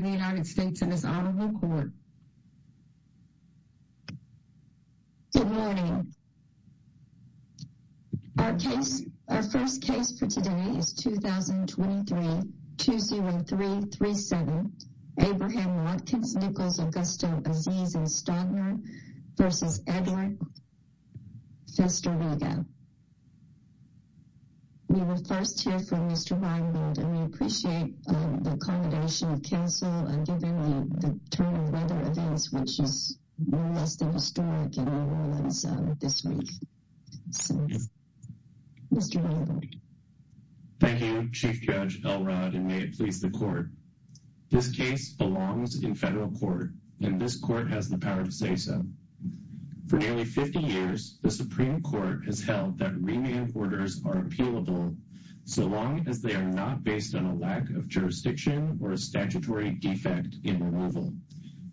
in the United States and his Honorable Court. Good morning. Our case, our first case for today is 2023-20337, Abraham Watkins, Nichols, Augusto, Aziz, and Stodner v. Edward Festeryga. We will first hear from Mr. Weinberg, and we appreciate the accommodation of counsel and given the turn of weather events, which is more or less than historic in New Orleans this week. So, Mr. Weinberg. Thank you, Chief Judge Elrod, and may it please the Court. This case belongs in federal court, and this Court has the power to say so. For nearly 50 years, the Supreme Court has held that remand orders are appealable so long as they are not based on a lack of jurisdiction or a statutory defect in removal.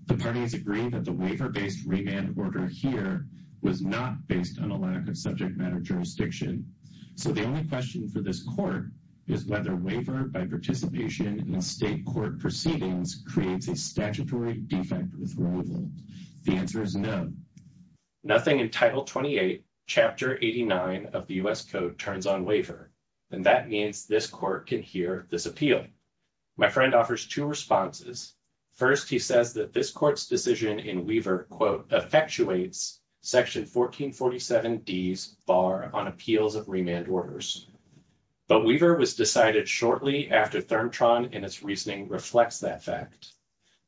The parties agree that the waiver-based remand order here was not based on a lack of subject matter jurisdiction. So the only question for this Court is whether waiver by participation in state court proceedings creates a statutory defect with removal. The answer is no. Nothing in Title 28, Chapter 89 of the U.S. Code turns on waiver, and that means this Court can hear this appeal. My friend offers two responses. First, he says that this Court's decision in Weaver, quote, effectuates Section 1447D's bar on appeals of remand orders. But Weaver was decided shortly after ThermTron and its reasoning reflects that fact.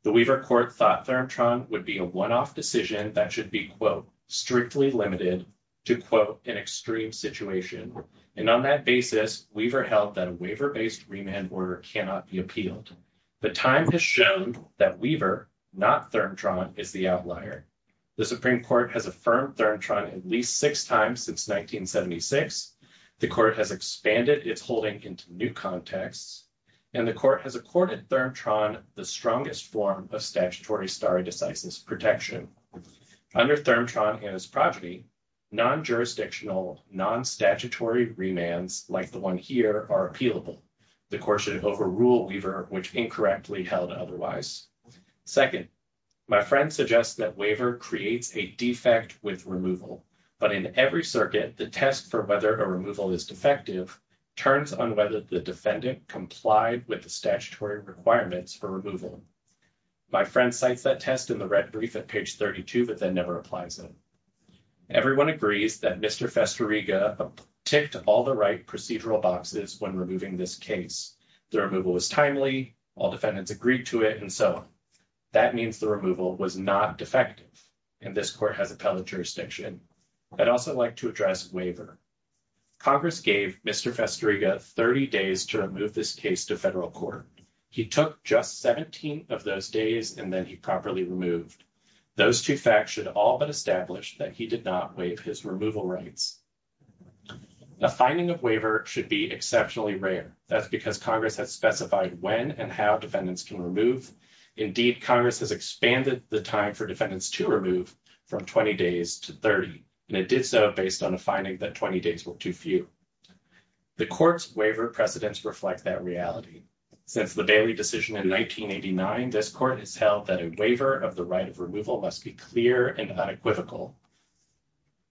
The Weaver Court thought ThermTron would be a one-off decision that should be, quote, strictly limited to, quote, an extreme situation. And on that basis, Weaver held that a waiver-based remand order cannot be appealed. But time has shown that Weaver, not ThermTron, is the outlier. The Supreme Court has affirmed ThermTron at least six times since 1976. The Court has expanded its holding into new contexts. And the Court has accorded ThermTron the strongest form of statutory stare decisis protection. Under ThermTron and its progeny, non-jurisdictional, non-statutory remands like the one here are appealable. The Court should overrule Weaver, which incorrectly held otherwise. Second, my friend suggests that Weaver creates a defect with removal. But in every circuit, the test for whether a removal is defective turns on whether the defendant complied with the statutory requirements for removal. My friend cites that test in the red brief at page 32, but then never applies it. Everyone agrees that Mr. Festeriga ticked all the right procedural boxes when removing this case. The removal was timely, all defendants agreed to it, and so on. That means the removal was not defective, and this Court has appellate jurisdiction. I'd also like to address Weaver. Congress gave Mr. Festeriga 30 days to remove this case to federal court. He took just 17 of those days, and then he properly removed. Those two facts should all but establish that he did not waive his removal rights. A finding of Weaver should be exceptionally rare. That's because Congress has specified when and how defendants can remove. Indeed, Congress has expanded the time for defendants to remove from 20 days to 30, and it did so based on a finding that 20 days were too few. The Court's waiver precedents reflect that reality. Since the Bailey decision in 1989, this Court has held that a waiver of the right of removal must be clear and unequivocal.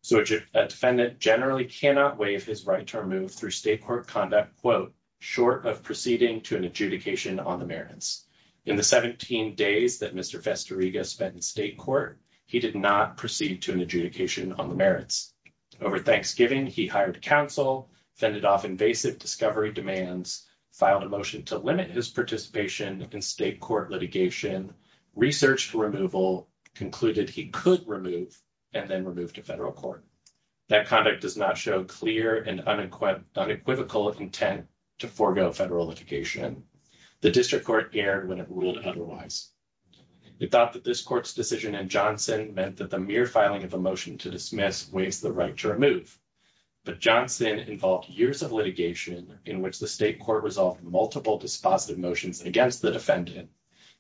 So a defendant generally cannot waive his right to remove through state court conduct, quote, short of proceeding to an adjudication on the merits. In the 17 days that Mr. Festeriga spent in state court, he did not proceed to an adjudication on the merits. Over Thanksgiving, he hired counsel, fended off invasive discovery demands, filed a motion to limit his participation in state court litigation, researched removal, concluded he could remove, and then removed to federal court. That conduct does not show clear and unequivocal intent to forego federal litigation. The district court erred when it ruled otherwise. It thought that this Court's decision in Johnson meant that the mere filing of a motion to dismiss waived the right to remove. But Johnson involved years of litigation in which the state court resolved multiple dispositive motions against the defendant.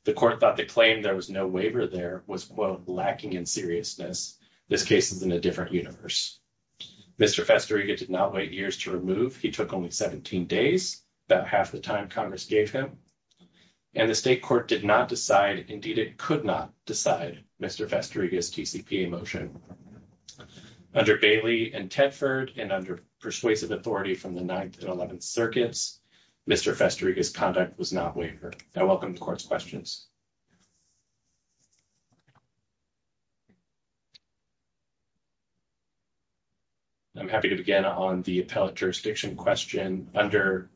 The Court thought the claim there was no waiver there was, quote, lacking in seriousness. This case is in a different universe. Mr. Festeriga did not wait years to remove. He took only 17 days, about half the time Congress gave him. And the state court did not decide, indeed it could not decide, Mr. Festeriga's TCPA motion. Under Bailey and Tedford and under persuasive authority from the 9th and 11th Circuits, Mr. Festeriga's conduct was not waivered. I welcome the Court's questions. I'm happy to begin on the appellate jurisdiction question. Under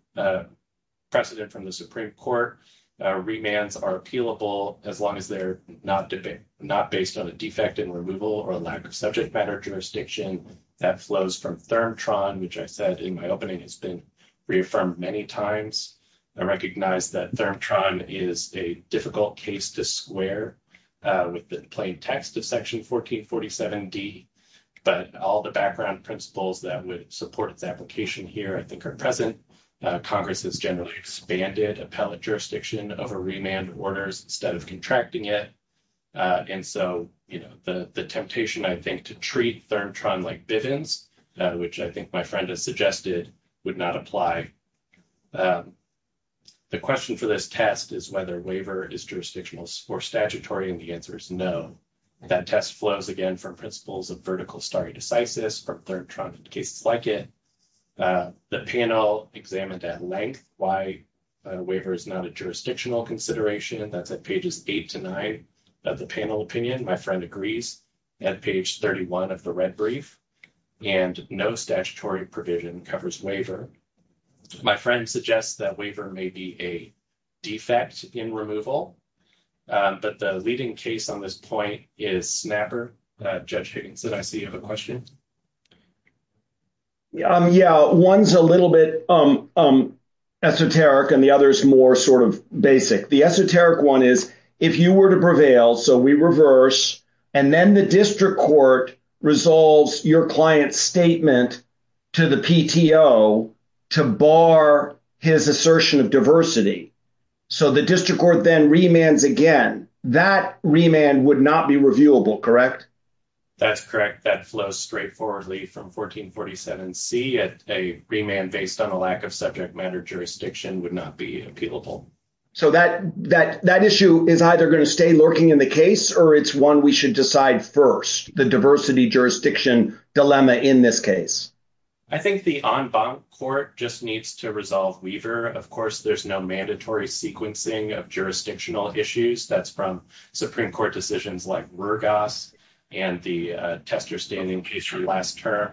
precedent from the Supreme Court, remands are appealable as long as they're not based on a defect in removal or lack of subject matter jurisdiction that flows from ThermTron, which I said in my opening has been reaffirmed many times. I recognize that ThermTron is a difficult case to square with the plain text of Section 1447D, but all the background principles that would support its application here I think are present. Congress has generally expanded appellate jurisdiction over remand orders instead of contracting it. And so, you know, the temptation, I think, to treat ThermTron like Bivens, which I think my friend has suggested, would not apply. The question for this test is whether waiver is jurisdictional or statutory, and the answer is no. That test flows, again, from principles of vertical stare decisis from ThermTron and cases like it. The panel examined at length why waiver is not a jurisdictional consideration. That's at pages 8 to 9 of the panel opinion. My friend agrees at page 31 of the red brief. And no statutory provision covers waiver. My friend suggests that waiver may be a defect in removal. But the leading case on this point is Snapper. Judge Higgins, did I see you have a question? Yeah, one's a little bit esoteric, and the other is more sort of basic. The esoteric one is if you were to prevail, so we reverse, and then the district court resolves your client's statement to the PTO to bar his assertion of diversity, so the district court then remands again, that remand would not be reviewable, correct? That's correct. That flows straightforwardly from 1447C. A remand based on a lack of subject matter jurisdiction would not be appealable. So that issue is either going to stay lurking in the case, or it's one we should decide first, the diversity jurisdiction dilemma in this case. I think the en banc court just needs to resolve waiver. Of course, there's no mandatory sequencing of jurisdictional issues. That's from Supreme Court decisions like Rurgas and the tester standing case from last term.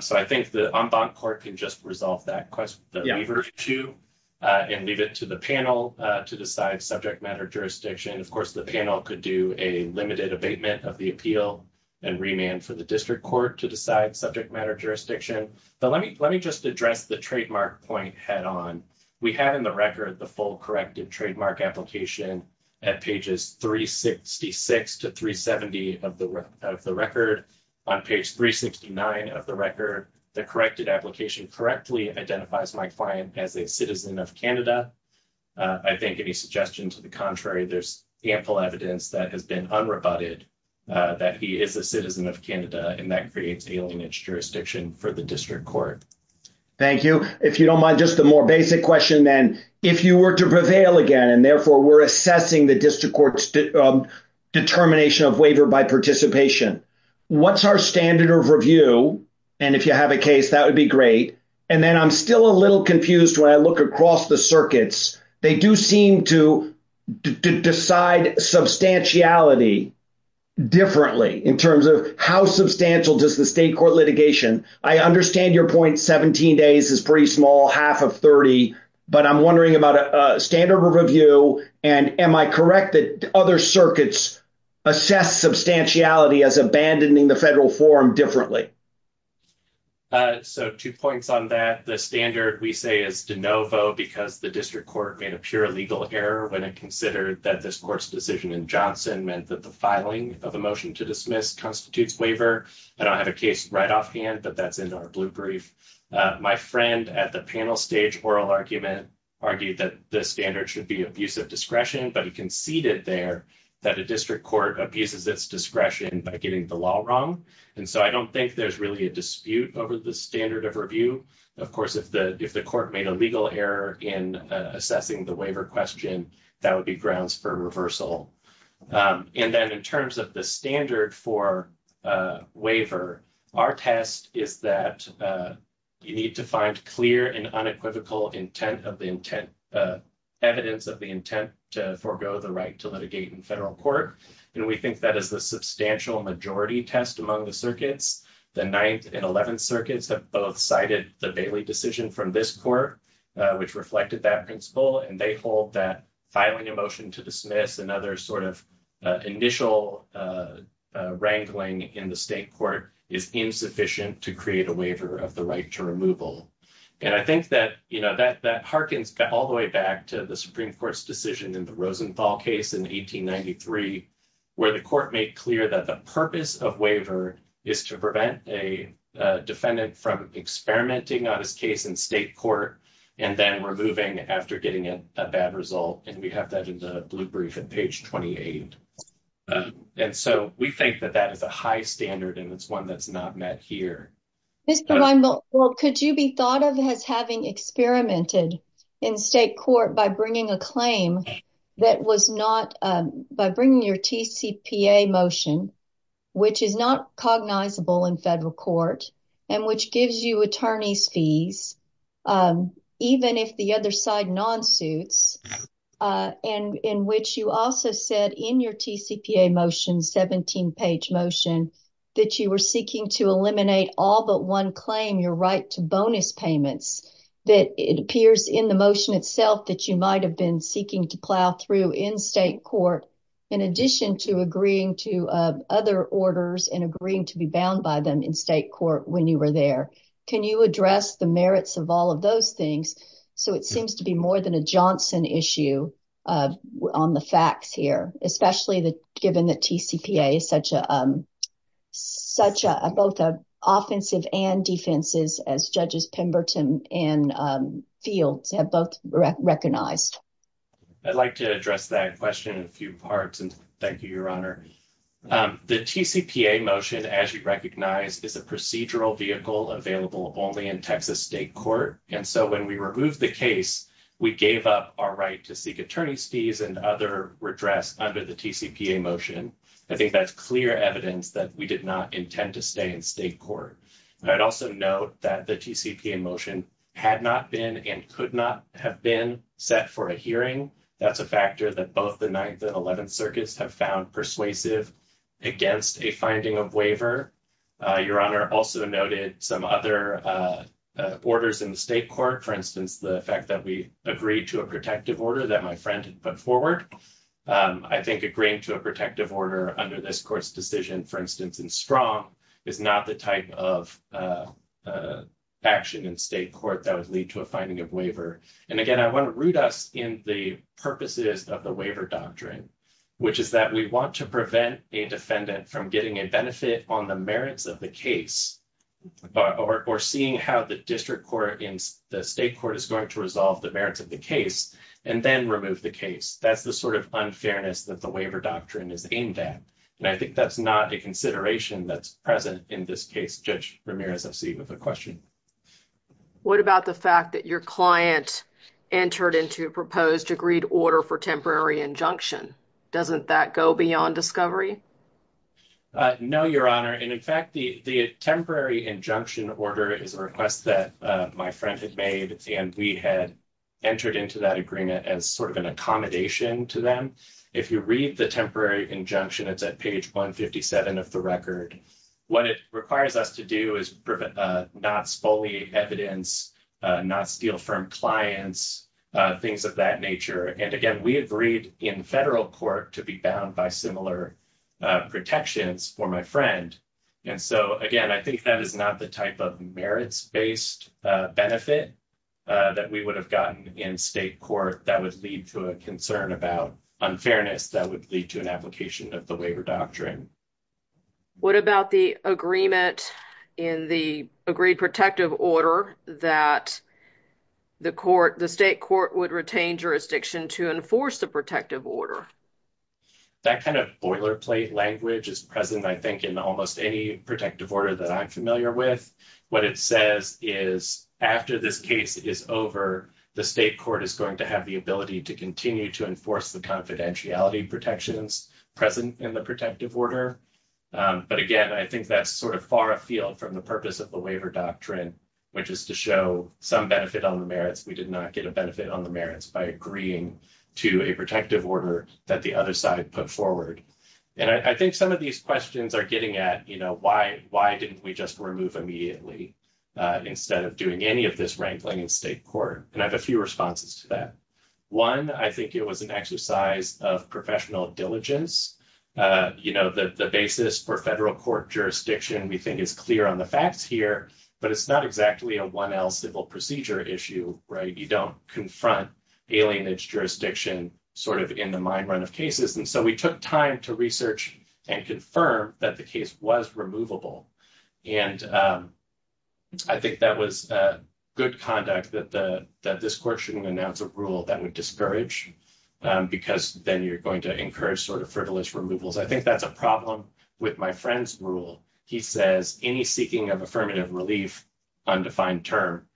So I think the en banc court can just resolve that waiver, too, and leave it to the panel to decide subject matter jurisdiction. Of course, the panel could do a limited abatement of the appeal and remand for the district court to decide subject matter jurisdiction. But let me just address the trademark point head on. We have in the record the full corrected trademark application at pages 366 to 370 of the record. On page 369 of the record, the corrected application correctly identifies Mike Fine as a citizen of Canada. I think any suggestion to the contrary, there's ample evidence that has been unrebutted that he is a citizen of Canada, and that creates alienage jurisdiction for the district court. Thank you. If you don't mind, just a more basic question then. If you were to prevail again, and therefore we're assessing the district court's determination of waiver by participation, what's our standard of review? And if you have a case, that would be great. And then I'm still a little confused when I look across the circuits. They do seem to decide substantiality differently in terms of how substantial does the state court litigation. I understand your point, 17 days is pretty small, half of 30. But I'm wondering about a standard review, and am I correct that other circuits assess substantiality as abandoning the federal forum differently? So two points on that. The standard, we say, is de novo because the district court made a pure legal error when it considered that this court's decision in Johnson meant that the filing of a motion to dismiss constitutes waiver. I don't have a case right offhand, but that's in our blue brief. My friend at the panel stage oral argument argued that the standard should be abuse of discretion, but he conceded there that a district court abuses its discretion by getting the law wrong. And so I don't think there's really a dispute over the standard of review. Of course, if the court made a legal error in assessing the waiver question, that would be grounds for reversal. And then in terms of the standard for waiver, our test is that you need to find clear and unequivocal evidence of the intent to forego the right to litigate in federal court. And we think that is the substantial majority test among the circuits. The 9th and 11th circuits have both cited the Bailey decision from this court, which reflected that principle. And they hold that filing a motion to dismiss another sort of initial wrangling in the state court is insufficient to create a waiver of the right to removal. And I think that, you know, that that harkens all the way back to the Supreme Court's decision in the Rosenthal case in 1893, where the court made clear that the purpose of waiver is to prevent a defendant from experimenting on his case in state court. And then we're moving after getting a bad result. And we have that in the blue brief and page 28. And so we think that that is a high standard and it's one that's not met here. Well, could you be thought of as having experimented in state court by bringing a claim that was not by bringing your T.C.P.A. motion, which is not cognizable in federal court and which gives you attorneys fees, even if the other side non suits and in which you also said in your T.C.P.A. motion, 17 page motion, that you were seeking to eliminate all but one claim, your right to bonus payments, that it appears in the motion itself that you might have been seeking to plow through in state court. In addition to agreeing to other orders and agreeing to be bound by them in state court when you were there. Can you address the merits of all of those things? So it seems to be more than a Johnson issue on the facts here, especially the given that T.C.P.A. is such a such a both offensive and defenses as judges Pemberton and fields have both recognized. I'd like to address that question in a few parts. And thank you, Your Honor. The T.C.P.A. motion, as you recognize, is a procedural vehicle available only in Texas state court. And so when we remove the case, we gave up our right to seek attorneys fees and other redress under the T.C.P.A. motion. I think that's clear evidence that we did not intend to stay in state court. And I'd also note that the T.C.P.A. motion had not been and could not have been set for a hearing. That's a factor that both the 9th and 11th circuits have found persuasive against a finding of waiver. Your honor also noted some other orders in the state court. For instance, the fact that we agreed to a protective order that my friend put forward. I think agreeing to a protective order under this court's decision, for instance, and strong is not the type of action in state court that would lead to a finding of waiver. And again, I want to root us in the purposes of the waiver doctrine, which is that we want to prevent a defendant from getting a benefit on the merits of the case or seeing how the district court in the state court is going to resolve the merits of the case and then remove the case. That's the sort of unfairness that the waiver doctrine is aimed at. And I think that's not a consideration that's present in this case. Judge Ramirez, I see you have a question. What about the fact that your client entered into a proposed agreed order for temporary injunction? Doesn't that go beyond discovery? No, your honor. And in fact, the temporary injunction order is a request that my friend had made. And we had entered into that agreement as sort of an accommodation to them. If you read the temporary injunction, it's at page 157 of the record. What it requires us to do is not spoliate evidence, not steal from clients, things of that nature. And again, we agreed in federal court to be bound by similar protections for my friend. And so, again, I think that is not the type of merits-based benefit that we would have gotten in state court that would lead to a concern about unfairness that would lead to an application of the waiver doctrine. What about the agreement in the agreed protective order that the state court would retain jurisdiction to enforce the protective order? That kind of boilerplate language is present, I think, in almost any protective order that I'm familiar with. What it says is after this case is over, the state court is going to have the ability to continue to enforce the confidentiality protections present in the protective order. But again, I think that's sort of far afield from the purpose of the waiver doctrine, which is to show some benefit on the merits. We did not get a benefit on the merits by agreeing to a protective order that the other side put forward. And I think some of these questions are getting at, you know, why didn't we just remove immediately instead of doing any of this wrangling in state court? And I have a few responses to that. One, I think it was an exercise of professional diligence. You know, the basis for federal court jurisdiction, we think, is clear on the facts here, but it's not exactly a 1L civil procedure issue, right? You don't confront alienage jurisdiction sort of in the mind run of cases. And so we took time to research and confirm that the case was removable. And I think that was good conduct that this court shouldn't announce a rule that would discourage, because then you're going to encourage sort of frivolous removals. I think that's a problem with my friend's rule. He says any seeking of affirmative relief, undefined term,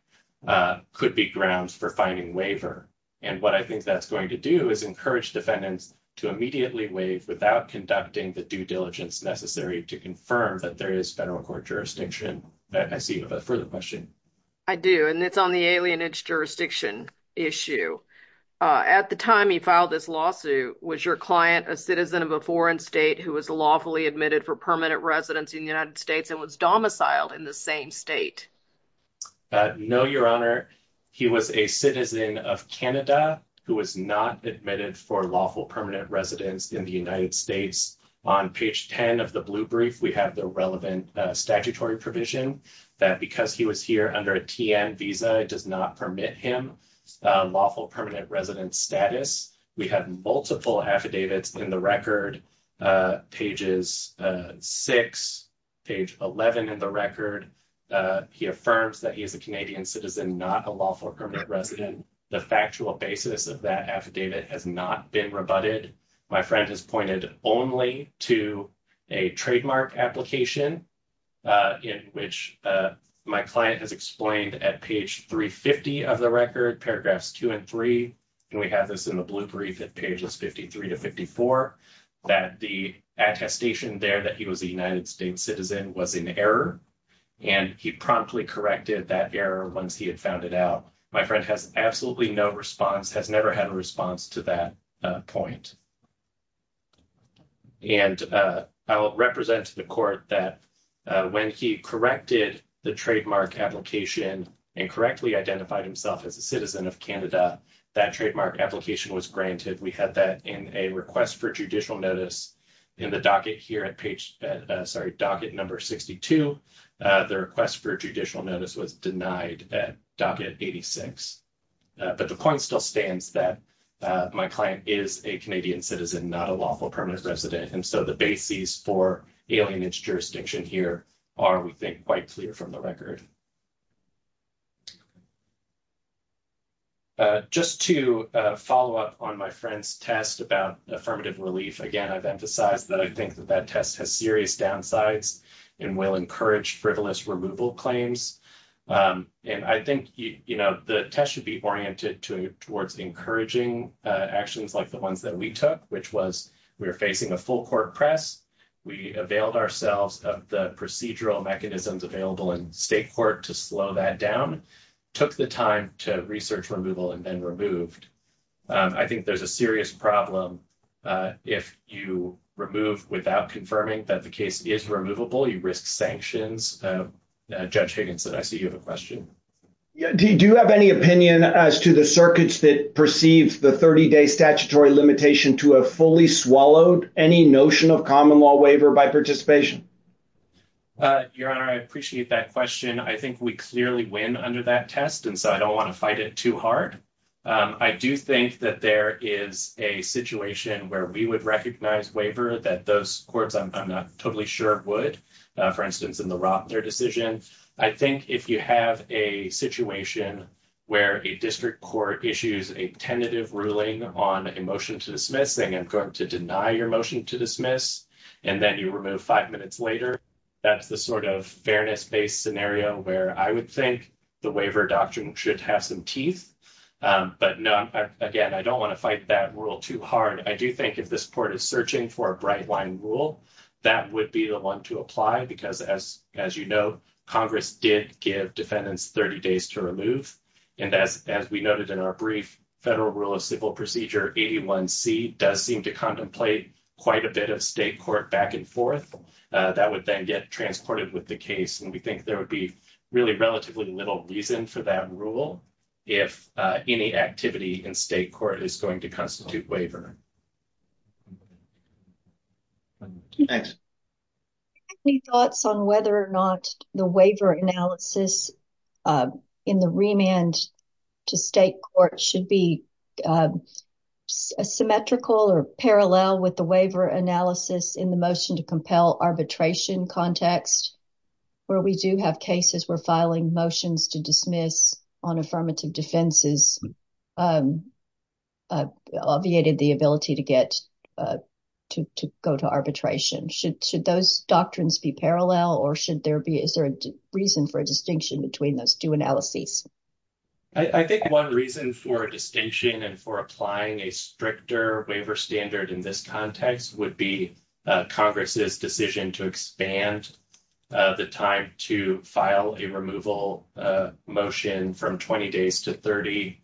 could be grounds for finding waiver. And what I think that's going to do is encourage defendants to immediately waive without conducting the due diligence necessary to confirm that there is federal court jurisdiction. I see you have a further question. I do, and it's on the alienage jurisdiction issue. At the time he filed this lawsuit, was your client a citizen of a foreign state who was lawfully admitted for permanent residence in the United States and was domiciled in the same state? No, Your Honor. He was a citizen of Canada who was not admitted for lawful permanent residence in the United States. On page 10 of the blue brief, we have the relevant statutory provision that because he was here under a TN visa, it does not permit him lawful permanent residence status. We have multiple affidavits in the record, pages 6, page 11 in the record. He affirms that he is a Canadian citizen, not a lawful permanent resident. The factual basis of that affidavit has not been rebutted. My friend has pointed only to a trademark application in which my client has explained at page 350 of the record, paragraphs 2 and 3, and we have this in the blue brief at pages 53 to 54, that the attestation there that he was a United States citizen was in error, and he promptly corrected that error once he had found it out. My friend has absolutely no response, has never had a response to that point. And I will represent to the court that when he corrected the trademark application and correctly identified himself as a citizen of Canada, that trademark application was granted. We had that in a request for judicial notice in the docket here at page, sorry, docket number 62. The request for judicial notice was denied at docket 86. But the point still stands that my client is a Canadian citizen, not a lawful permanent resident. And so the basis for ailing his jurisdiction here are, we think, quite clear from the record. Just to follow up on my friend's test about affirmative relief. Again, I've emphasized that I think that that test has serious downsides and will encourage frivolous removal claims. And I think, you know, the test should be oriented towards encouraging actions like the ones that we took, which was we were facing a full court press. We availed ourselves of the procedural mechanisms available in state court to slow that down, took the time to research removal and then removed. I think there's a serious problem if you remove without confirming that the case is removable, you risk sanctions. Judge Higginson, I see you have a question. Do you have any opinion as to the circuits that perceived the 30-day statutory limitation to have fully swallowed any notion of common law waiver by participation? Your Honor, I appreciate that question. I think we clearly win under that test. And so I don't want to fight it too hard. I do think that there is a situation where we would recognize waiver that those courts, I'm not totally sure, would, for instance, in the Rottner decision. I think if you have a situation where a district court issues a tentative ruling on a motion to dismiss, saying I'm going to deny your motion to dismiss, and then you remove five minutes later, that's the sort of fairness based scenario where I would think the waiver doctrine should have some teeth. But again, I don't want to fight that rule too hard. I do think if this court is searching for a bright line rule, that would be the one to apply. Because as you know, Congress did give defendants 30 days to remove. And as we noted in our brief federal rule of civil procedure, 81C does seem to contemplate quite a bit of state court back and forth. That would then get transported with the case. And we think there would be really relatively little reason for that rule if any activity in state court is going to constitute waiver. Any thoughts on whether or not the waiver analysis in the remand to state court should be symmetrical or parallel with the waiver analysis in the motion to compel arbitration context? Where we do have cases where filing motions to dismiss on affirmative defenses obviated the ability to get to go to arbitration. Should those doctrines be parallel or should there be a reason for a distinction between those two analyses? I think one reason for a distinction and for applying a stricter waiver standard in this context would be Congress's decision to expand the time to file a removal motion from 20 days to 30.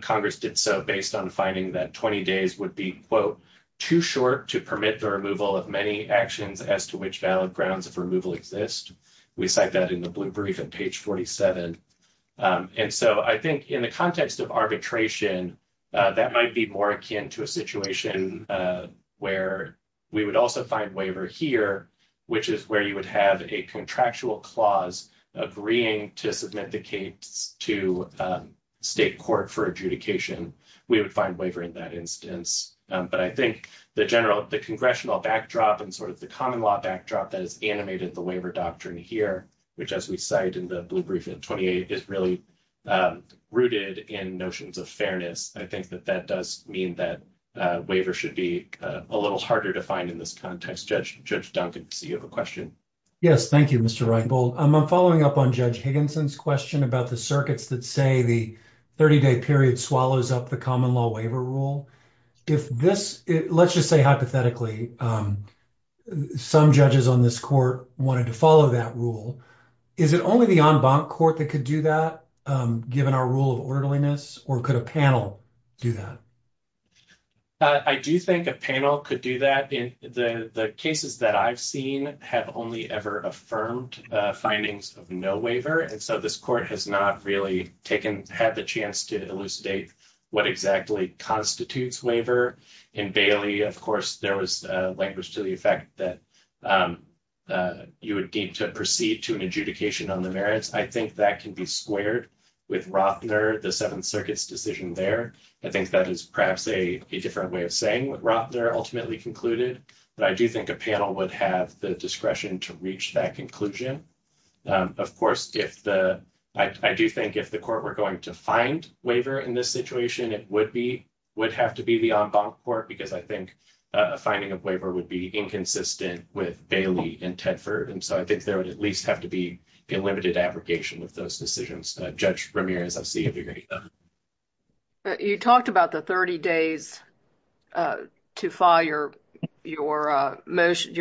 Congress did so based on finding that 20 days would be quote, too short to permit the removal of many actions as to which valid grounds of removal exist. We cite that in the blue brief on page 47. And so I think in the context of arbitration, that might be more akin to a situation where we would also find waiver here, which is where you would have a contractual clause agreeing to submit the case to state court for adjudication. We would find waiver in that instance, but I think the general, the congressional backdrop and sort of the common law backdrop that is animated the waiver doctrine here, which, as we cite in the blue brief in 28, is really rooted in notions of fairness. I think that that does mean that waiver should be a little harder to find in this context. Judge Duncan, do you have a question? Yes, thank you, Mr. Reichbold. I'm following up on Judge Higginson's question about the circuits that say the 30-day period swallows up the common law waiver rule. If this, let's just say hypothetically, some judges on this court wanted to follow that rule, is it only the en banc court that could do that, given our rule of orderliness, or could a panel do that? I do think a panel could do that. The cases that I've seen have only ever affirmed findings of no waiver, and so this court has not really taken, had the chance to elucidate what exactly constitutes waiver. In Bailey, of course, there was language to the effect that you would need to proceed to an adjudication on the merits. I think that can be squared with Rottner, the Seventh Circuit's decision there. I think that is perhaps a different way of saying what Rottner ultimately concluded, but I do think a panel would have the discretion to reach that conclusion. Of course, I do think if the court were going to find waiver in this situation, it would have to be the en banc court, because I think a finding of waiver would be inconsistent with Bailey and Tedford, and so I think there would at least have to be a limited abrogation of those decisions. You talked about the 30 days to file your motion,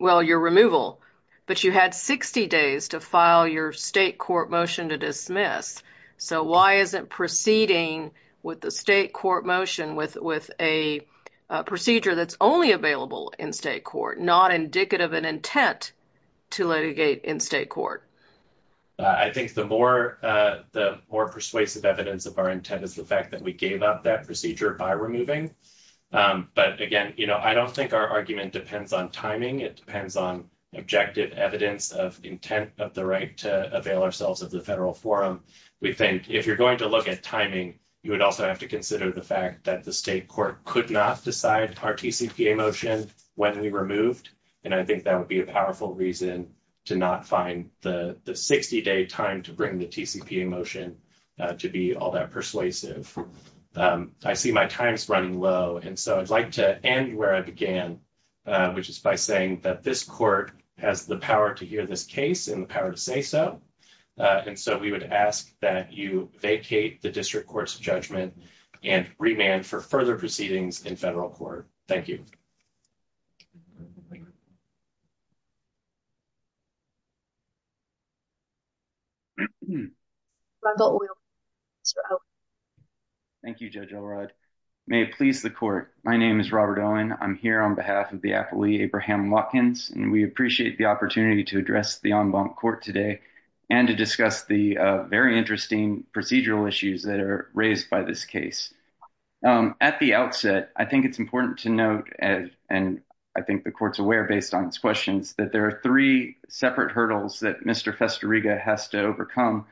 well, your removal, but you had 60 days to file your state court motion to dismiss, so why isn't proceeding with the state court motion with a procedure that's only available in state court, not indicative of an intent to litigate in state court? I think the more persuasive evidence of our intent is the fact that we gave up that procedure by removing, but again, I don't think our argument depends on timing. It depends on objective evidence of intent of the right to avail ourselves of the federal forum. We think if you're going to look at timing, you would also have to consider the fact that the state court could not decide our TCPA motion when we removed, and I think that would be a powerful reason to not find the 60 day time to bring the TCPA motion to be all that persuasive. I see my time's running low, and so I'd like to end where I began, which is by saying that this court has the power to hear this case and the power to say so, and so we would ask that you vacate the district court's judgment and remand for further proceedings in federal court. Thank you. Thank you, Judge Elrod. May it please the court. My name is Robert Owen. I'm here on behalf of the appellee, Abraham Watkins, and we appreciate the opportunity to address the en banc court today and to discuss the very interesting procedural issues that are raised by this case. At the outset, I think it's important to note, and I think the court's aware based on its questions, that there are three separate hurdles that Mr. Festeriga has to overcome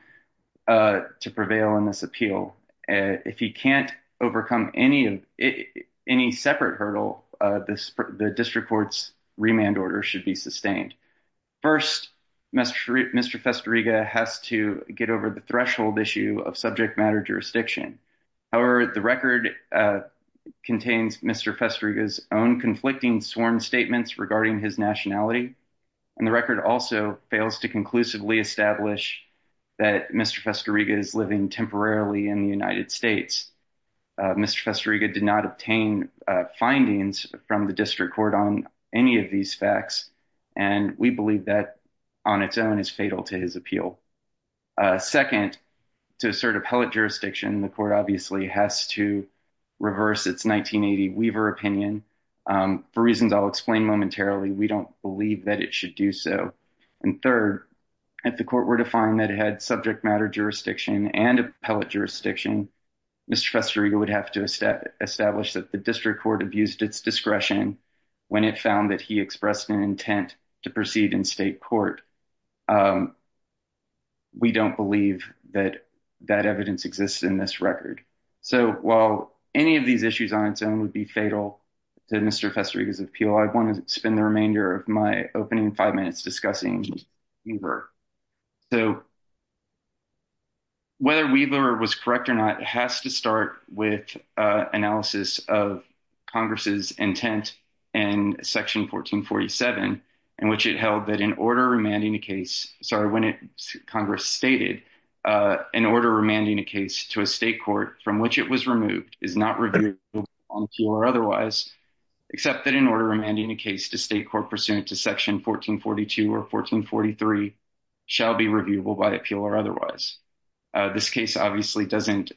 to prevail in this appeal. If he can't overcome any separate hurdle, the district court's remand order should be sustained. First, Mr. Festeriga has to get over the threshold issue of subject matter jurisdiction. However, the record contains Mr. Festeriga's own conflicting sworn statements regarding his nationality, and the record also fails to conclusively establish that Mr. Festeriga is living temporarily in the United States. Mr. Festeriga did not obtain findings from the district court on any of these facts, and we believe that on its own is fatal to his appeal. Second, to assert appellate jurisdiction, the court obviously has to reverse its 1980 Weaver opinion. For reasons I'll explain momentarily, we don't believe that it should do so. And third, if the court were to find that it had subject matter jurisdiction and appellate jurisdiction, Mr. Festeriga would have to establish that the district court abused its discretion when it found that he expressed an intent to proceed in state court. We don't believe that that evidence exists in this record. So while any of these issues on its own would be fatal to Mr. Festeriga's appeal, I want to spend the remainder of my opening five minutes discussing Weaver. So whether Weaver was correct or not has to start with analysis of Congress's intent in Section 1447, in which it held that in order remanding a case – sorry, when Congress stated, in order remanding a case to a state court from which it was removed is not reviewable on appeal or otherwise, except that in order remanding a case to state court pursuant to Section 1442 or 1443 shall be reviewable by appeal or otherwise. This case obviously doesn't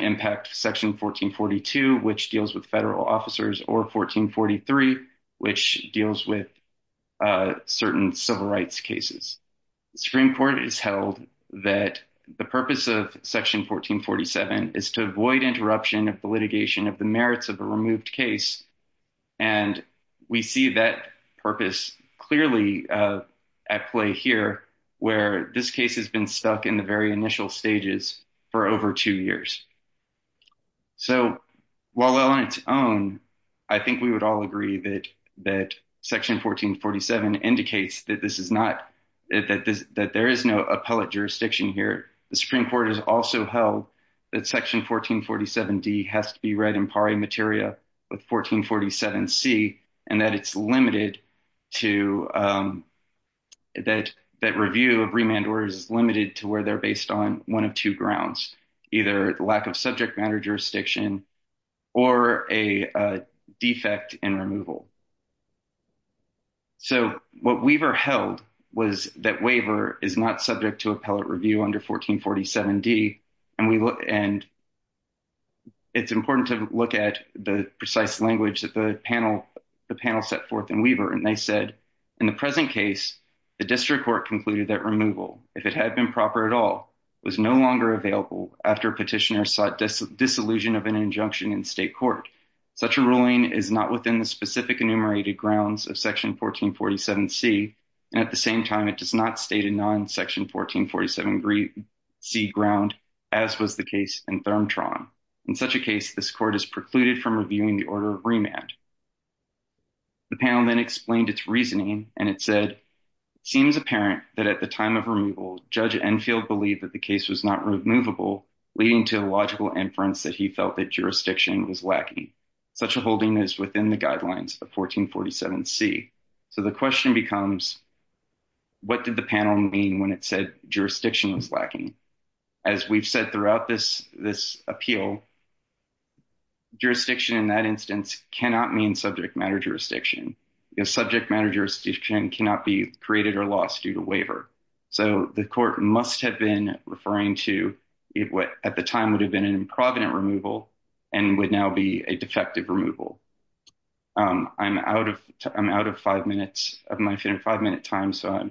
impact Section 1442, which deals with federal officers, or 1443, which deals with certain civil rights cases. Supreme Court has held that the purpose of Section 1447 is to avoid interruption of the litigation of the merits of a removed case, and we see that purpose clearly at play here, where this case has been stuck in the very initial stages for over two years. So while on its own, I think we would all agree that Section 1447 indicates that this is not – that there is no appellate jurisdiction here. The Supreme Court has also held that Section 1447D has to be read in pari materia with 1447C, and that it's limited to – that review of remand orders is limited to where they're based on one of two grounds, either the lack of subject matter jurisdiction or a defect in removal. So what Weaver held was that waiver is not subject to appellate review under 1447D, and we – and it's important to look at the precise language that the panel set forth in Weaver, and they said, in the present case, the district court concluded that removal, if it had been proper at all, was no longer available after petitioner sought disillusion of an injunction in state court. Such a ruling is not within the specific enumerated grounds of Section 1447C, and at the same time, it does not state a non-Section 1447C ground, as was the case in Thurmtron. In such a case, this court is precluded from reviewing the order of remand. The panel then explained its reasoning, and it said, it seems apparent that at the time of removal, Judge Enfield believed that the case was not removable, leading to a logical inference that he felt that jurisdiction was lacking. Such a holding is within the guidelines of 1447C. So the question becomes, what did the panel mean when it said jurisdiction was lacking? As we've said throughout this appeal, jurisdiction in that instance cannot mean subject matter jurisdiction. Subject matter jurisdiction cannot be created or lost due to waiver. So the court must have been referring to what at the time would have been an improvident removal and would now be a defective removal. I'm out of five minutes of my five-minute time, so I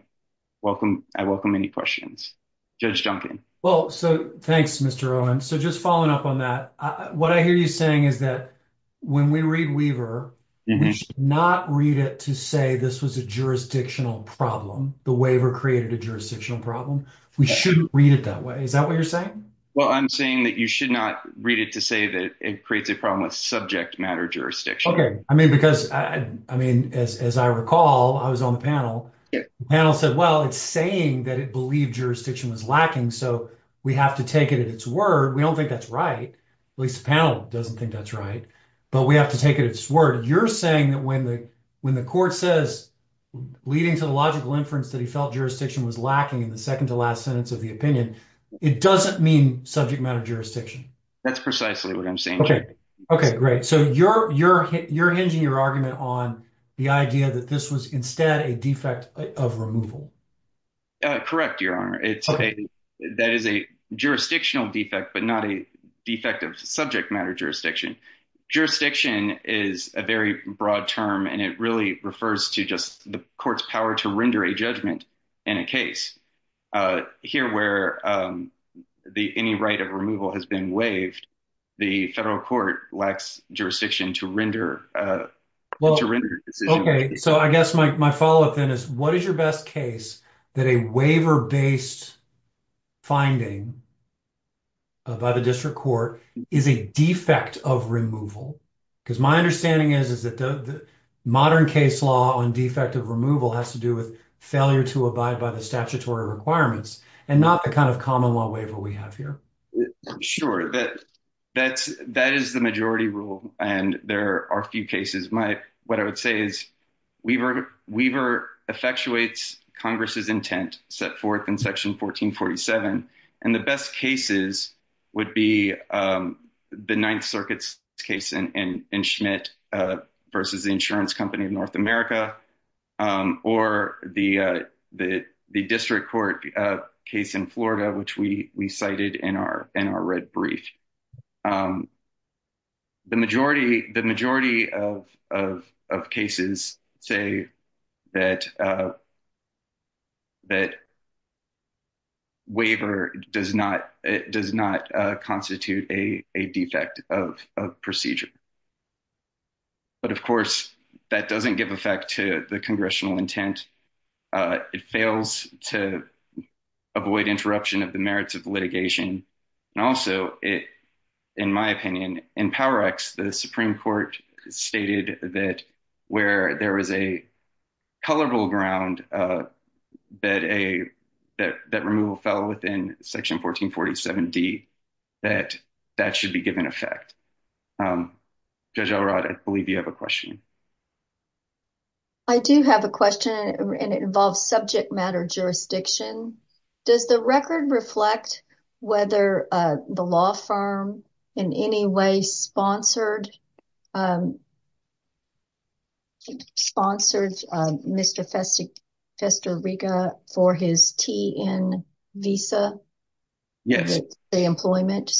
welcome any questions. Judge Duncan. Well, so thanks, Mr. Owen. So just following up on that, what I hear you saying is that when we read Weaver, we should not read it to say this was a jurisdictional problem. The waiver created a jurisdictional problem. We shouldn't read it that way. Is that what you're saying? Well, I'm saying that you should not read it to say that it creates a problem with subject matter jurisdiction. I mean, because, I mean, as I recall, I was on the panel. The panel said, well, it's saying that it believed jurisdiction was lacking, so we have to take it at its word. We don't think that's right. At least the panel doesn't think that's right. But we have to take it at its word. You're saying that when the court says, leading to the logical inference that he felt jurisdiction was lacking in the second-to-last sentence of the opinion, it doesn't mean subject matter jurisdiction. That's precisely what I'm saying, Judge. Okay, great. So you're hinging your argument on the idea that this was instead a defect of removal. Correct, Your Honor. That is a jurisdictional defect, but not a defect of subject matter jurisdiction. Jurisdiction is a very broad term, and it really refers to just the court's power to render a judgment in a case. Here, where any right of removal has been waived, the federal court lacks jurisdiction to render a decision. Okay, so I guess my follow-up then is, what is your best case that a waiver-based finding by the district court is a defect of removal? Because my understanding is that the modern case law on defect of removal has to do with failure to abide by the statutory requirements, and not the kind of common law waiver we have here. Sure. That is the majority rule, and there are a few cases. What I would say is, waiver effectuates Congress's intent set forth in Section 1447, and the best cases would be the Ninth Circuit's case in Schmidt versus the Insurance Company of North America, or the district court case in Florida, which we cited in our red brief. The majority of cases say that waiver does not constitute a defect of procedure, but, of course, that doesn't give effect to the congressional intent. It fails to avoid interruption of the merits of litigation. And also, in my opinion, in Power Act, the Supreme Court stated that where there is a colorable ground that removal fell within Section 1447D, that that should be given effect. Judge Elrod, I believe you have a question. I do have a question, and it involves subject matter jurisdiction. Does the record reflect whether the law firm in any way sponsored Mr. Festeriga for his TN visa? Yes. The employment?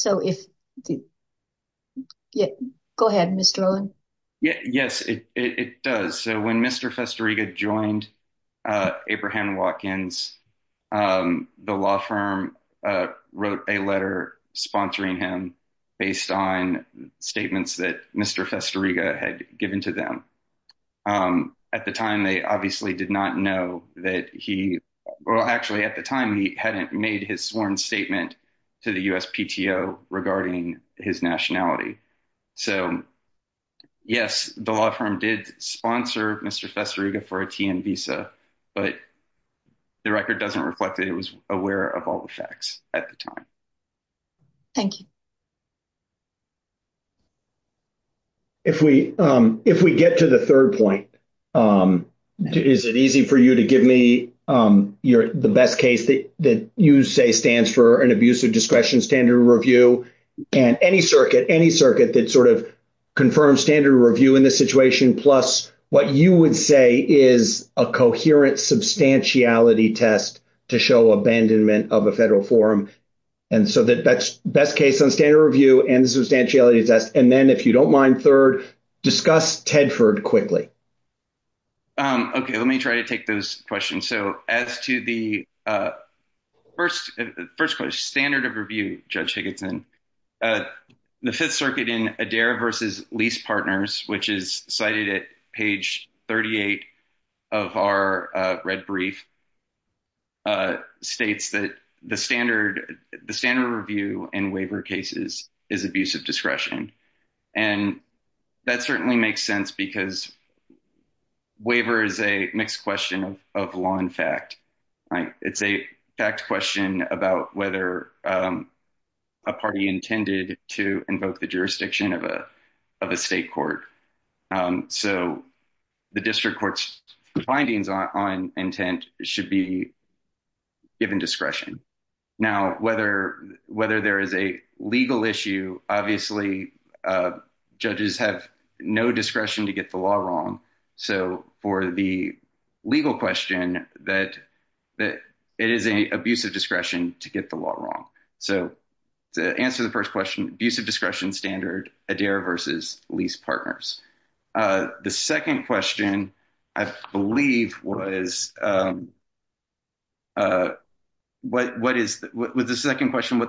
Go ahead, Mr. Olin. Yes, it does. So, when Mr. Festeriga joined Abraham Watkins, the law firm wrote a letter sponsoring him based on statements that Mr. Festeriga had given to them. At the time, they obviously did not know that he—well, actually, at the time, he hadn't made his sworn statement to the USPTO regarding his nationality. So, yes, the law firm did sponsor Mr. Festeriga for a TN visa, but the record doesn't reflect that it was aware of all the facts at the time. Thank you. If we get to the third point, is it easy for you to give me the best case that you say stands for an abuse of discretion standard review? And any circuit, any circuit that sort of confirms standard review in this situation, plus what you would say is a coherent substantiality test to show abandonment of a federal forum. And so the best case on standard review and the substantiality test. And then, if you don't mind, third, discuss Tedford quickly. Okay, let me try to take those questions. So, as to the first question, standard of review, Judge Higginson, the Fifth Circuit in Adair v. Lease Partners, which is cited at page 38 of our red brief, states that the standard review in waiver cases is abuse of discretion. And that certainly makes sense because waiver is a mixed question of law and fact. It's a fact question about whether a party intended to invoke the jurisdiction of a state court. So the district court's findings on intent should be given discretion. Now, whether there is a legal issue, obviously judges have no discretion to get the law wrong. So, for the legal question, it is an abuse of discretion to get the law wrong. So, to answer the first question, abuse of discretion standard, Adair v. Lease Partners. The second question, I believe, was, what is the second question?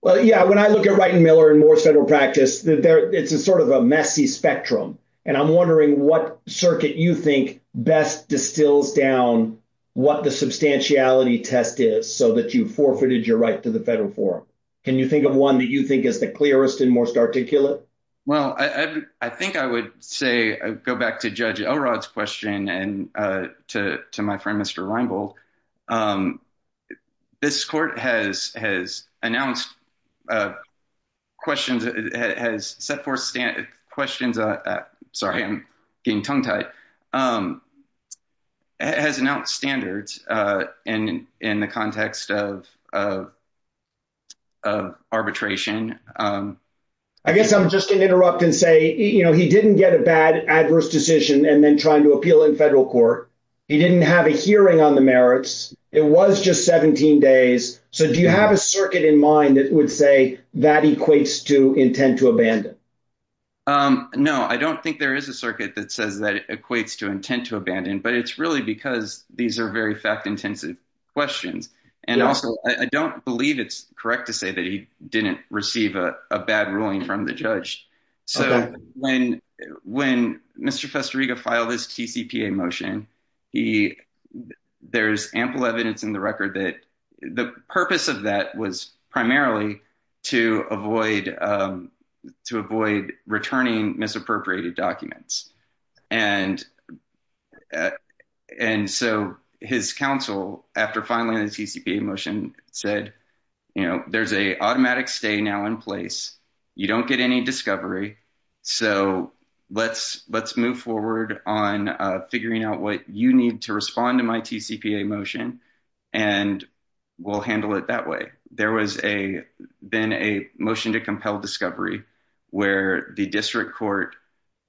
Well, yeah, when I look at Wright and Miller and more federal practice, it's a sort of a messy spectrum. And I'm wondering what circuit you think best distills down what the substantiality test is so that you forfeited your right to the federal forum. Can you think of one that you think is the clearest and most articulate? Well, I think I would say go back to Judge Elrod's question and to my friend, Mr. Reinbold. This court has announced questions, has set forth questions. Sorry, I'm getting tongue tied. It has announced standards in the context of arbitration. I guess I'm just going to interrupt and say, you know, he didn't get a bad adverse decision and then trying to appeal in federal court. He didn't have a hearing on the merits. It was just 17 days. So do you have a circuit in mind that would say that equates to intent to abandon? No, I don't think there is a circuit that says that equates to intent to abandon. But it's really because these are very fact intensive questions. And also, I don't believe it's correct to say that he didn't receive a bad ruling from the judge. So when Mr. Festeriga filed his TCPA motion, there's ample evidence in the record that the purpose of that was primarily to avoid returning misappropriated documents. And so his counsel, after filing the TCPA motion, said, you know, there's an automatic stay now in place. You don't get any discovery. So let's move forward on figuring out what you need to respond to my TCPA motion and we'll handle it that way. There was a then a motion to compel discovery where the district court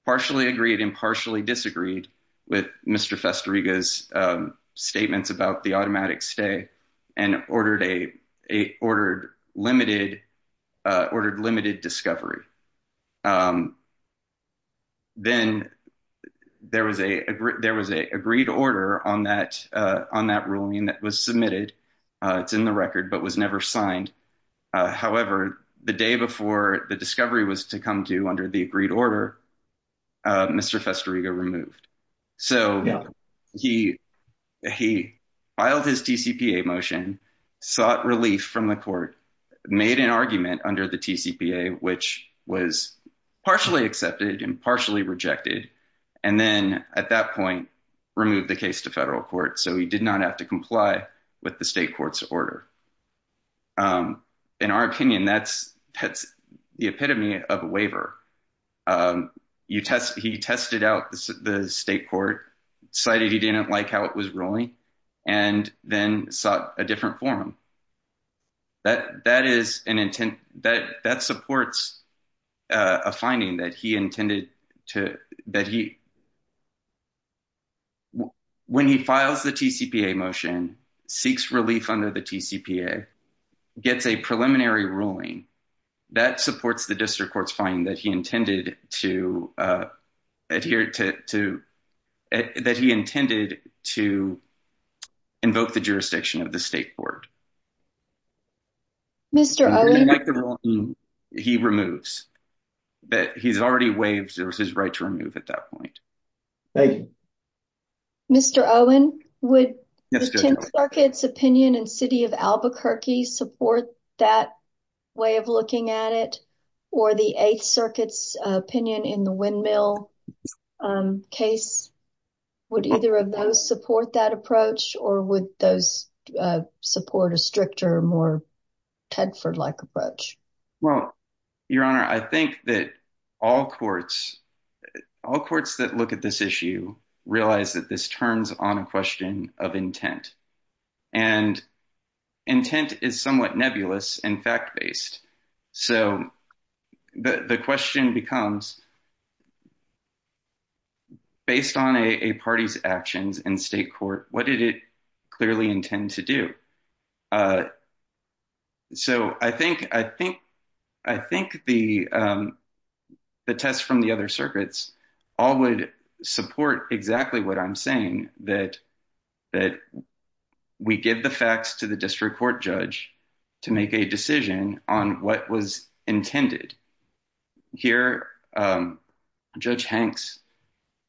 partially agreed and partially disagreed with Mr. Festeriga's statements about the automatic stay and ordered a limited discovery. Then there was a there was a agreed order on that on that ruling that was submitted. It's in the record, but was never signed. However, the day before the discovery was to come to under the agreed order, Mr. Festeriga removed. So he he filed his TCPA motion, sought relief from the court, made an argument under the TCPA, which was partially accepted and partially rejected. And then at that point, removed the case to federal court. So he did not have to comply with the state court's order. In our opinion, that's that's the epitome of a waiver. You test. He tested out the state court, cited he didn't like how it was ruling and then sought a different forum. That that is an intent that that supports a finding that he intended to that he. When he files the TCPA motion, seeks relief under the TCPA, gets a preliminary ruling that supports the district court's finding that he intended to adhere to that he intended to invoke the jurisdiction of the state court. Mr. He removes that he's already waived his right to remove at that point. Thank you. Mr. Owen, would the 10th Circuit's opinion and city of Albuquerque support that way of looking at it? Or the 8th Circuit's opinion in the windmill case? Would either of those support that approach or would those support a stricter, more Tedford like approach? Well, Your Honor, I think that all courts, all courts that look at this issue realize that this turns on a question of intent. And intent is somewhat nebulous and fact based. So the question becomes. Based on a party's actions in state court, what did it clearly intend to do? So I think I think I think the the test from the other circuits all would support exactly what I'm saying, that that we give the facts to the district court judge to make a decision on what was intended here. Judge Hanks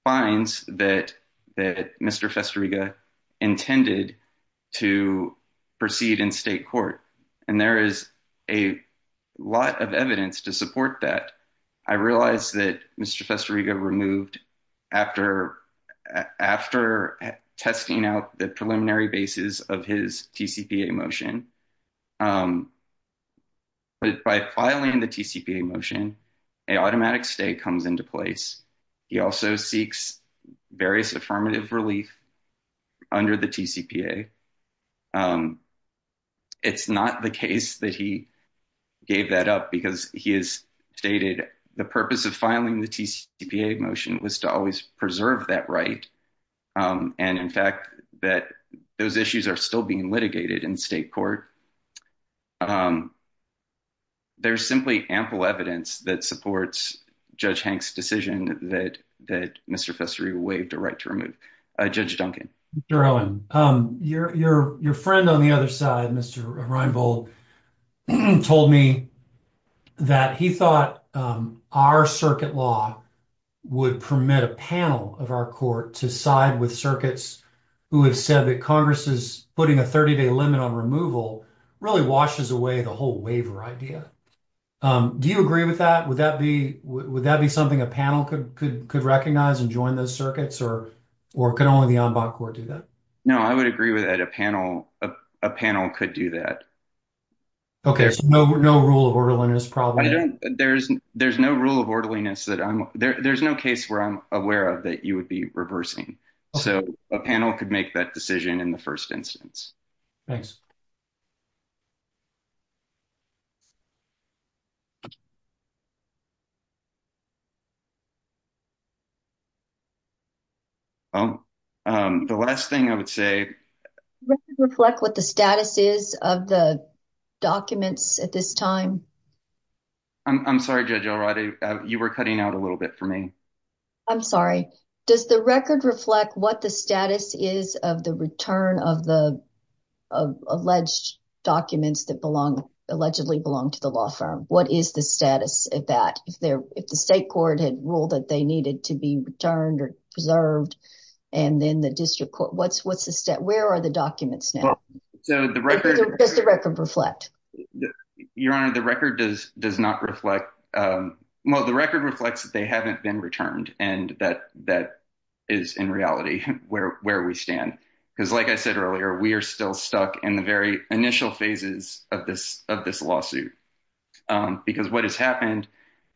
finds that that Mr. Festeriga intended to proceed in state court. And there is a lot of evidence to support that. I realize that Mr. Festeriga removed after after testing out the preliminary basis of his TCPA motion. But by filing the TCPA motion, a automatic stay comes into place. He also seeks various affirmative relief under the TCPA. It's not the case that he gave that up because he is stated the purpose of filing the TCPA motion was to always preserve that right. And in fact, that those issues are still being litigated in state court. There's simply ample evidence that supports Judge Hanks decision that that Mr. Festeriga waived a right to remove Judge Duncan. Your friend on the other side, Mr. Reinbold told me that he thought our circuit law would permit a panel of our court to side with circuits who have said that Congress is putting a 30 day limit on removal really washes away the whole waiver idea. Do you agree with that? Would that be would that be something a panel could could could recognize and join those circuits or or can only the ombud court do that? No, I would agree with that. A panel of a panel could do that. Okay. No, no rule of orderliness problem. There's there's no rule of orderliness that I'm there. There's no case where I'm aware of that you would be reversing. So a panel could make that decision in the first instance. Thanks. Oh, the last thing I would say reflect what the status is of the documents at this time. I'm sorry, Judge. All right. You were cutting out a little bit for me. I'm sorry. Does the record reflect what the status is of the return of the alleged documents that belong allegedly belong to the law firm? What is the status of that? If there if the state court had ruled that they needed to be returned or preserved and then the district court, what's what's the state? Where are the documents now? So the record is the record reflect your honor. The record does does not reflect. Well, the record reflects that they haven't been returned. And that that is in reality where where we stand, because, like I said earlier, we are still stuck in the very initial phases of this of this lawsuit. Because what has happened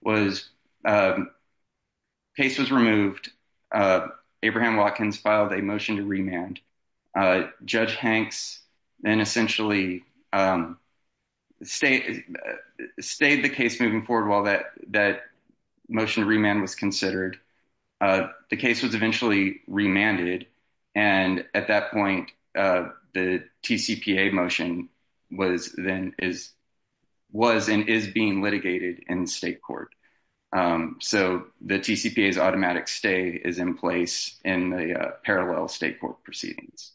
was. Case was removed. Abraham Watkins filed a motion to remand. Judge Hanks then essentially state stayed the case moving forward while that that motion remand was considered. The case was eventually remanded. And at that point, the TCPA motion was then is was and is being litigated in state court. So the TCPA is automatic. Stay is in place in the parallel state court proceedings.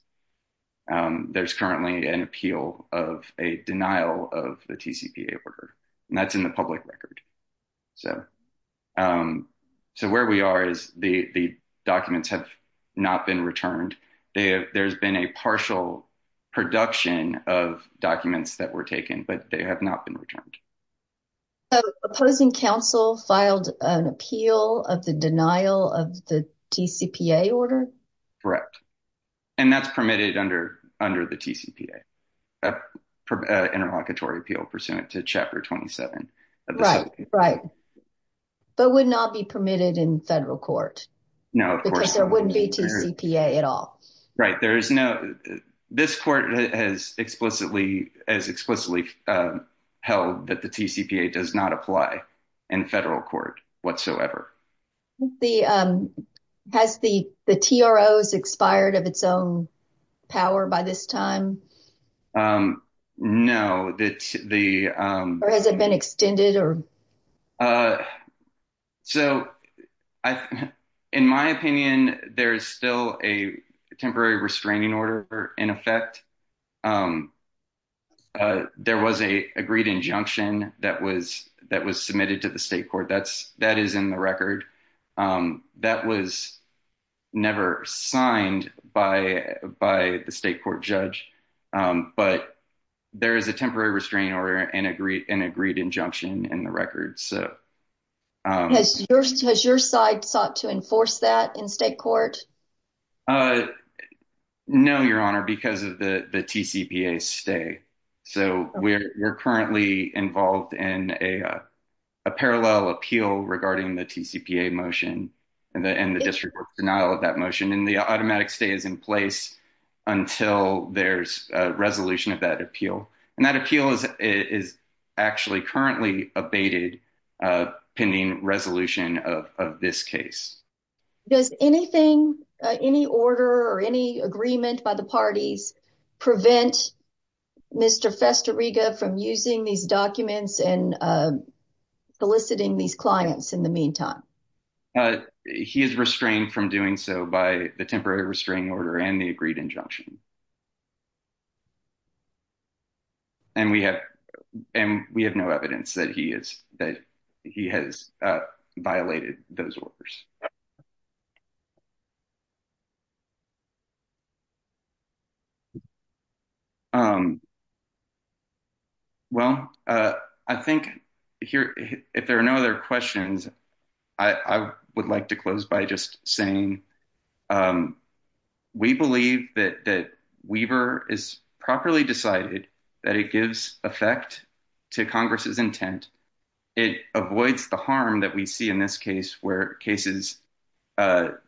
There's currently an appeal of a denial of the TCPA order, and that's in the public record. So. So where we are is the documents have not been returned. There's been a partial production of documents that were taken, but they have not been returned. Opposing counsel filed an appeal of the denial of the TCPA order. Correct. And that's permitted under under the TCPA interlocutory appeal pursuant to chapter twenty seven. Right. Right. But would not be permitted in federal court. No, because there wouldn't be TCPA at all. Right. There is no. This court has explicitly as explicitly held that the TCPA does not apply in federal court whatsoever. The has the the TROs expired of its own power by this time? No. That's the. Or has it been extended or. So in my opinion, there is still a temporary restraining order in effect. There was a agreed injunction that was that was submitted to the state court. That's that is in the record. That was never signed by by the state court judge. But there is a temporary restraining order and agreed an agreed injunction in the record. So. Has your side sought to enforce that in state court? No, Your Honor, because of the TCPA stay. So we're currently involved in a parallel appeal regarding the TCPA motion and the district denial of that motion. And the automatic stay is in place until there's a resolution of that appeal. And that appeal is is actually currently abated pending resolution of this case. Does anything any order or any agreement by the parties prevent Mr. Festeriga from using these documents and soliciting these clients in the meantime? He is restrained from doing so by the temporary restraining order and the agreed injunction. And we have and we have no evidence that he is that he has violated those orders. Well, I think here, if there are no other questions, I would like to close by just saying we believe that that Weaver is properly decided that it gives effect to Congress's intent. It avoids the harm that we see in this case where cases penned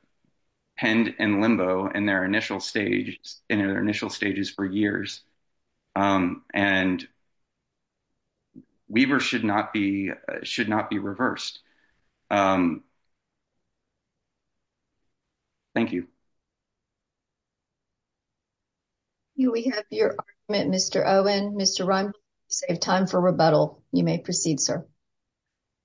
in limbo and their initial stage in their initial stages for years. And. Weaver should not be should not be reversed. Thank you. We have your Mr. Owen, Mr. Run save time for rebuttal. You may proceed, sir.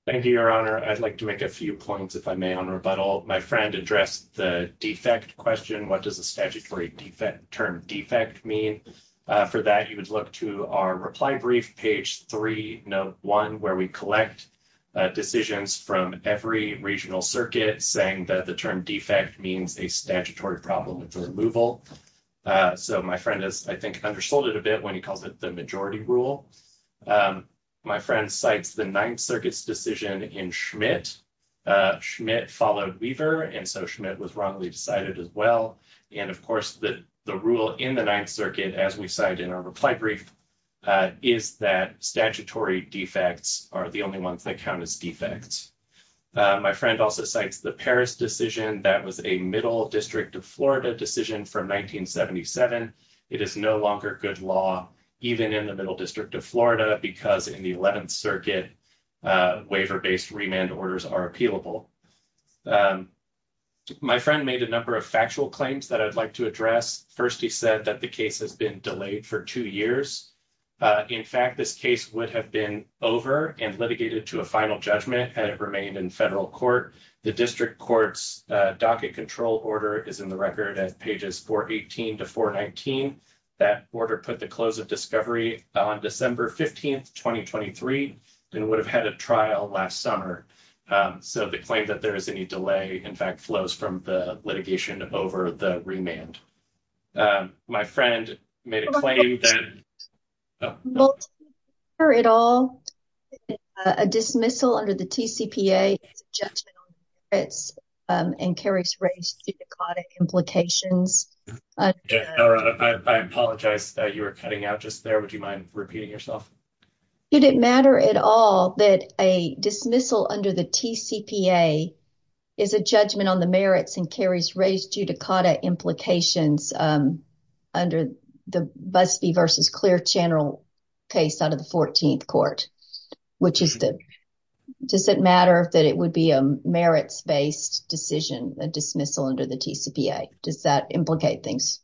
Thank you, Your Honor. I'd like to make a few points if I may on rebuttal. My friend addressed the defect question. What does a statutory defect term defect mean for that? You would look to our reply brief page 3 note 1, where we collect decisions from every regional circuit saying that the term defect means a statutory problem for removal. So, my friend is, I think, undersold it a bit when he calls it the majority rule. My friend sites, the 9th circuits decision in Schmidt. Schmidt followed Weaver and so Schmidt was wrongly decided as well. And, of course, the, the rule in the 9th circuit, as we cite in our reply brief. Is that statutory defects are the only ones that count as defects. My friend also cites the Paris decision. That was a middle district of Florida decision from 1977. It is no longer good law, even in the middle district of Florida, because in the 11th circuit waiver based remand orders are appealable. My friend made a number of factual claims that I'd like to address 1st. He said that the case has been delayed for 2 years. In fact, this case would have been over and litigated to a final judgment and it remained in federal court. The district courts docket control order is in the record as pages for 18 to 419. That order put the close of discovery on December 15th, 2023, and would have had a trial last summer. So, the claim that there is any delay, in fact, flows from the litigation over the remand. My friend made a claim that. Or at all a dismissal under the judgment and carries raised implications. I apologize that you were cutting out just there. Would you mind repeating yourself? It didn't matter at all that a dismissal under the T. C. P. A. is a judgment on the merits and carries raised you to caught implications. Under the best versus clear channel case out of the 14th court, which is that does it matter that it would be a merits based decision a dismissal under the does that implicate things?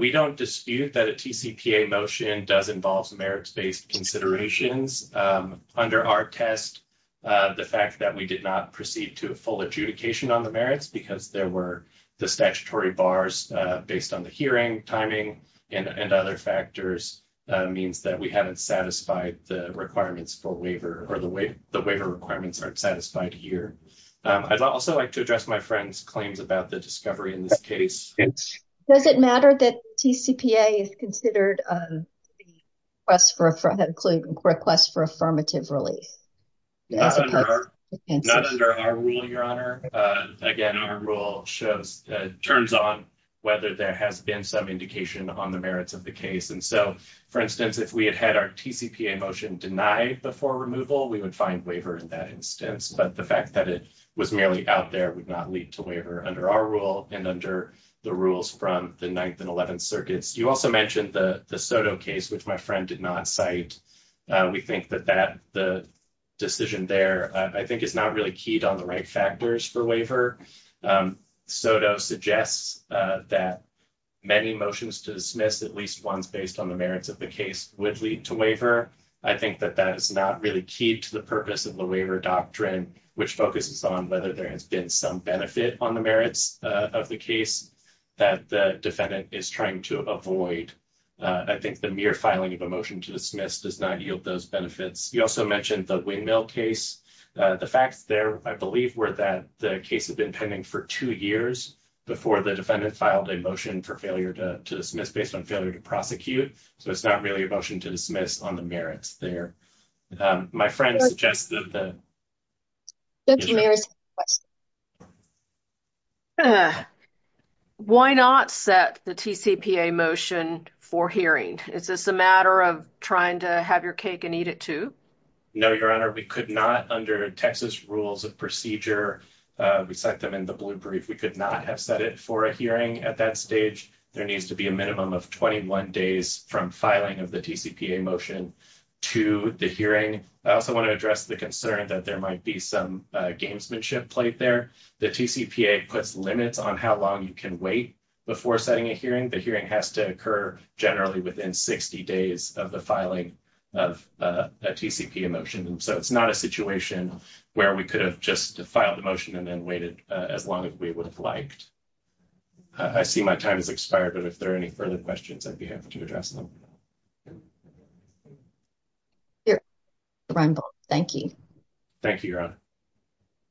We don't dispute that a T. C. P. A. motion does involves merits based considerations under our test. The fact that we did not proceed to a full adjudication on the merits because there were the statutory bars based on the hearing timing and other factors means that we haven't satisfied the requirements for waiver or the way the waiver requirements aren't satisfied here. I'd also like to address my friends claims about the discovery in this case. Does it matter that T. C. P. A. is considered us for a request for affirmative relief? Not under our rule, your honor. Again, our rule shows turns on whether there has been some indication on the merits of the case. And so, for instance, if we had had our T. C. P. A. motion denied before removal, we would find waiver in that instance. But the fact that it was merely out there would not lead to waiver under our rule and under the rules from the 9th and 11th circuits. You also mentioned the Soto case, which my friend did not cite. We think that that the decision there, I think, is not really keyed on the right factors for waiver. Soto suggests that many motions to dismiss at least once based on the merits of the case would lead to waiver. I think that that is not really keyed to the purpose of the waiver doctrine, which focuses on whether there has been some benefit on the merits of the case that the defendant is trying to avoid. I think the mere filing of a motion to dismiss does not yield those benefits. You also mentioned the windmill case. The facts there, I believe, were that the case had been pending for 2 years before the defendant filed a motion for failure to dismiss based on failure to prosecute. So, it's not really a motion to dismiss on the merits there. My friend suggested that. Thank you very much. Why not set the TCPA motion for hearing? Is this a matter of trying to have your cake and eat it too? No, Your Honor. We could not under Texas rules of procedure. We set them in the blue brief. We could not have set it for a hearing at that stage. There needs to be a minimum of 21 days from filing of the TCPA motion to the hearing. I also want to address the concern that there might be some gamesmanship played there. The TCPA puts limits on how long you can wait before setting a hearing. The hearing has to occur generally within 60 days of the filing of a TCPA motion. So, it's not a situation where we could have just filed a motion and then waited as long as we would have liked. I see my time has expired, but if there are any further questions, I'd be happy to address them. Thank you. Thank you, Your Honor.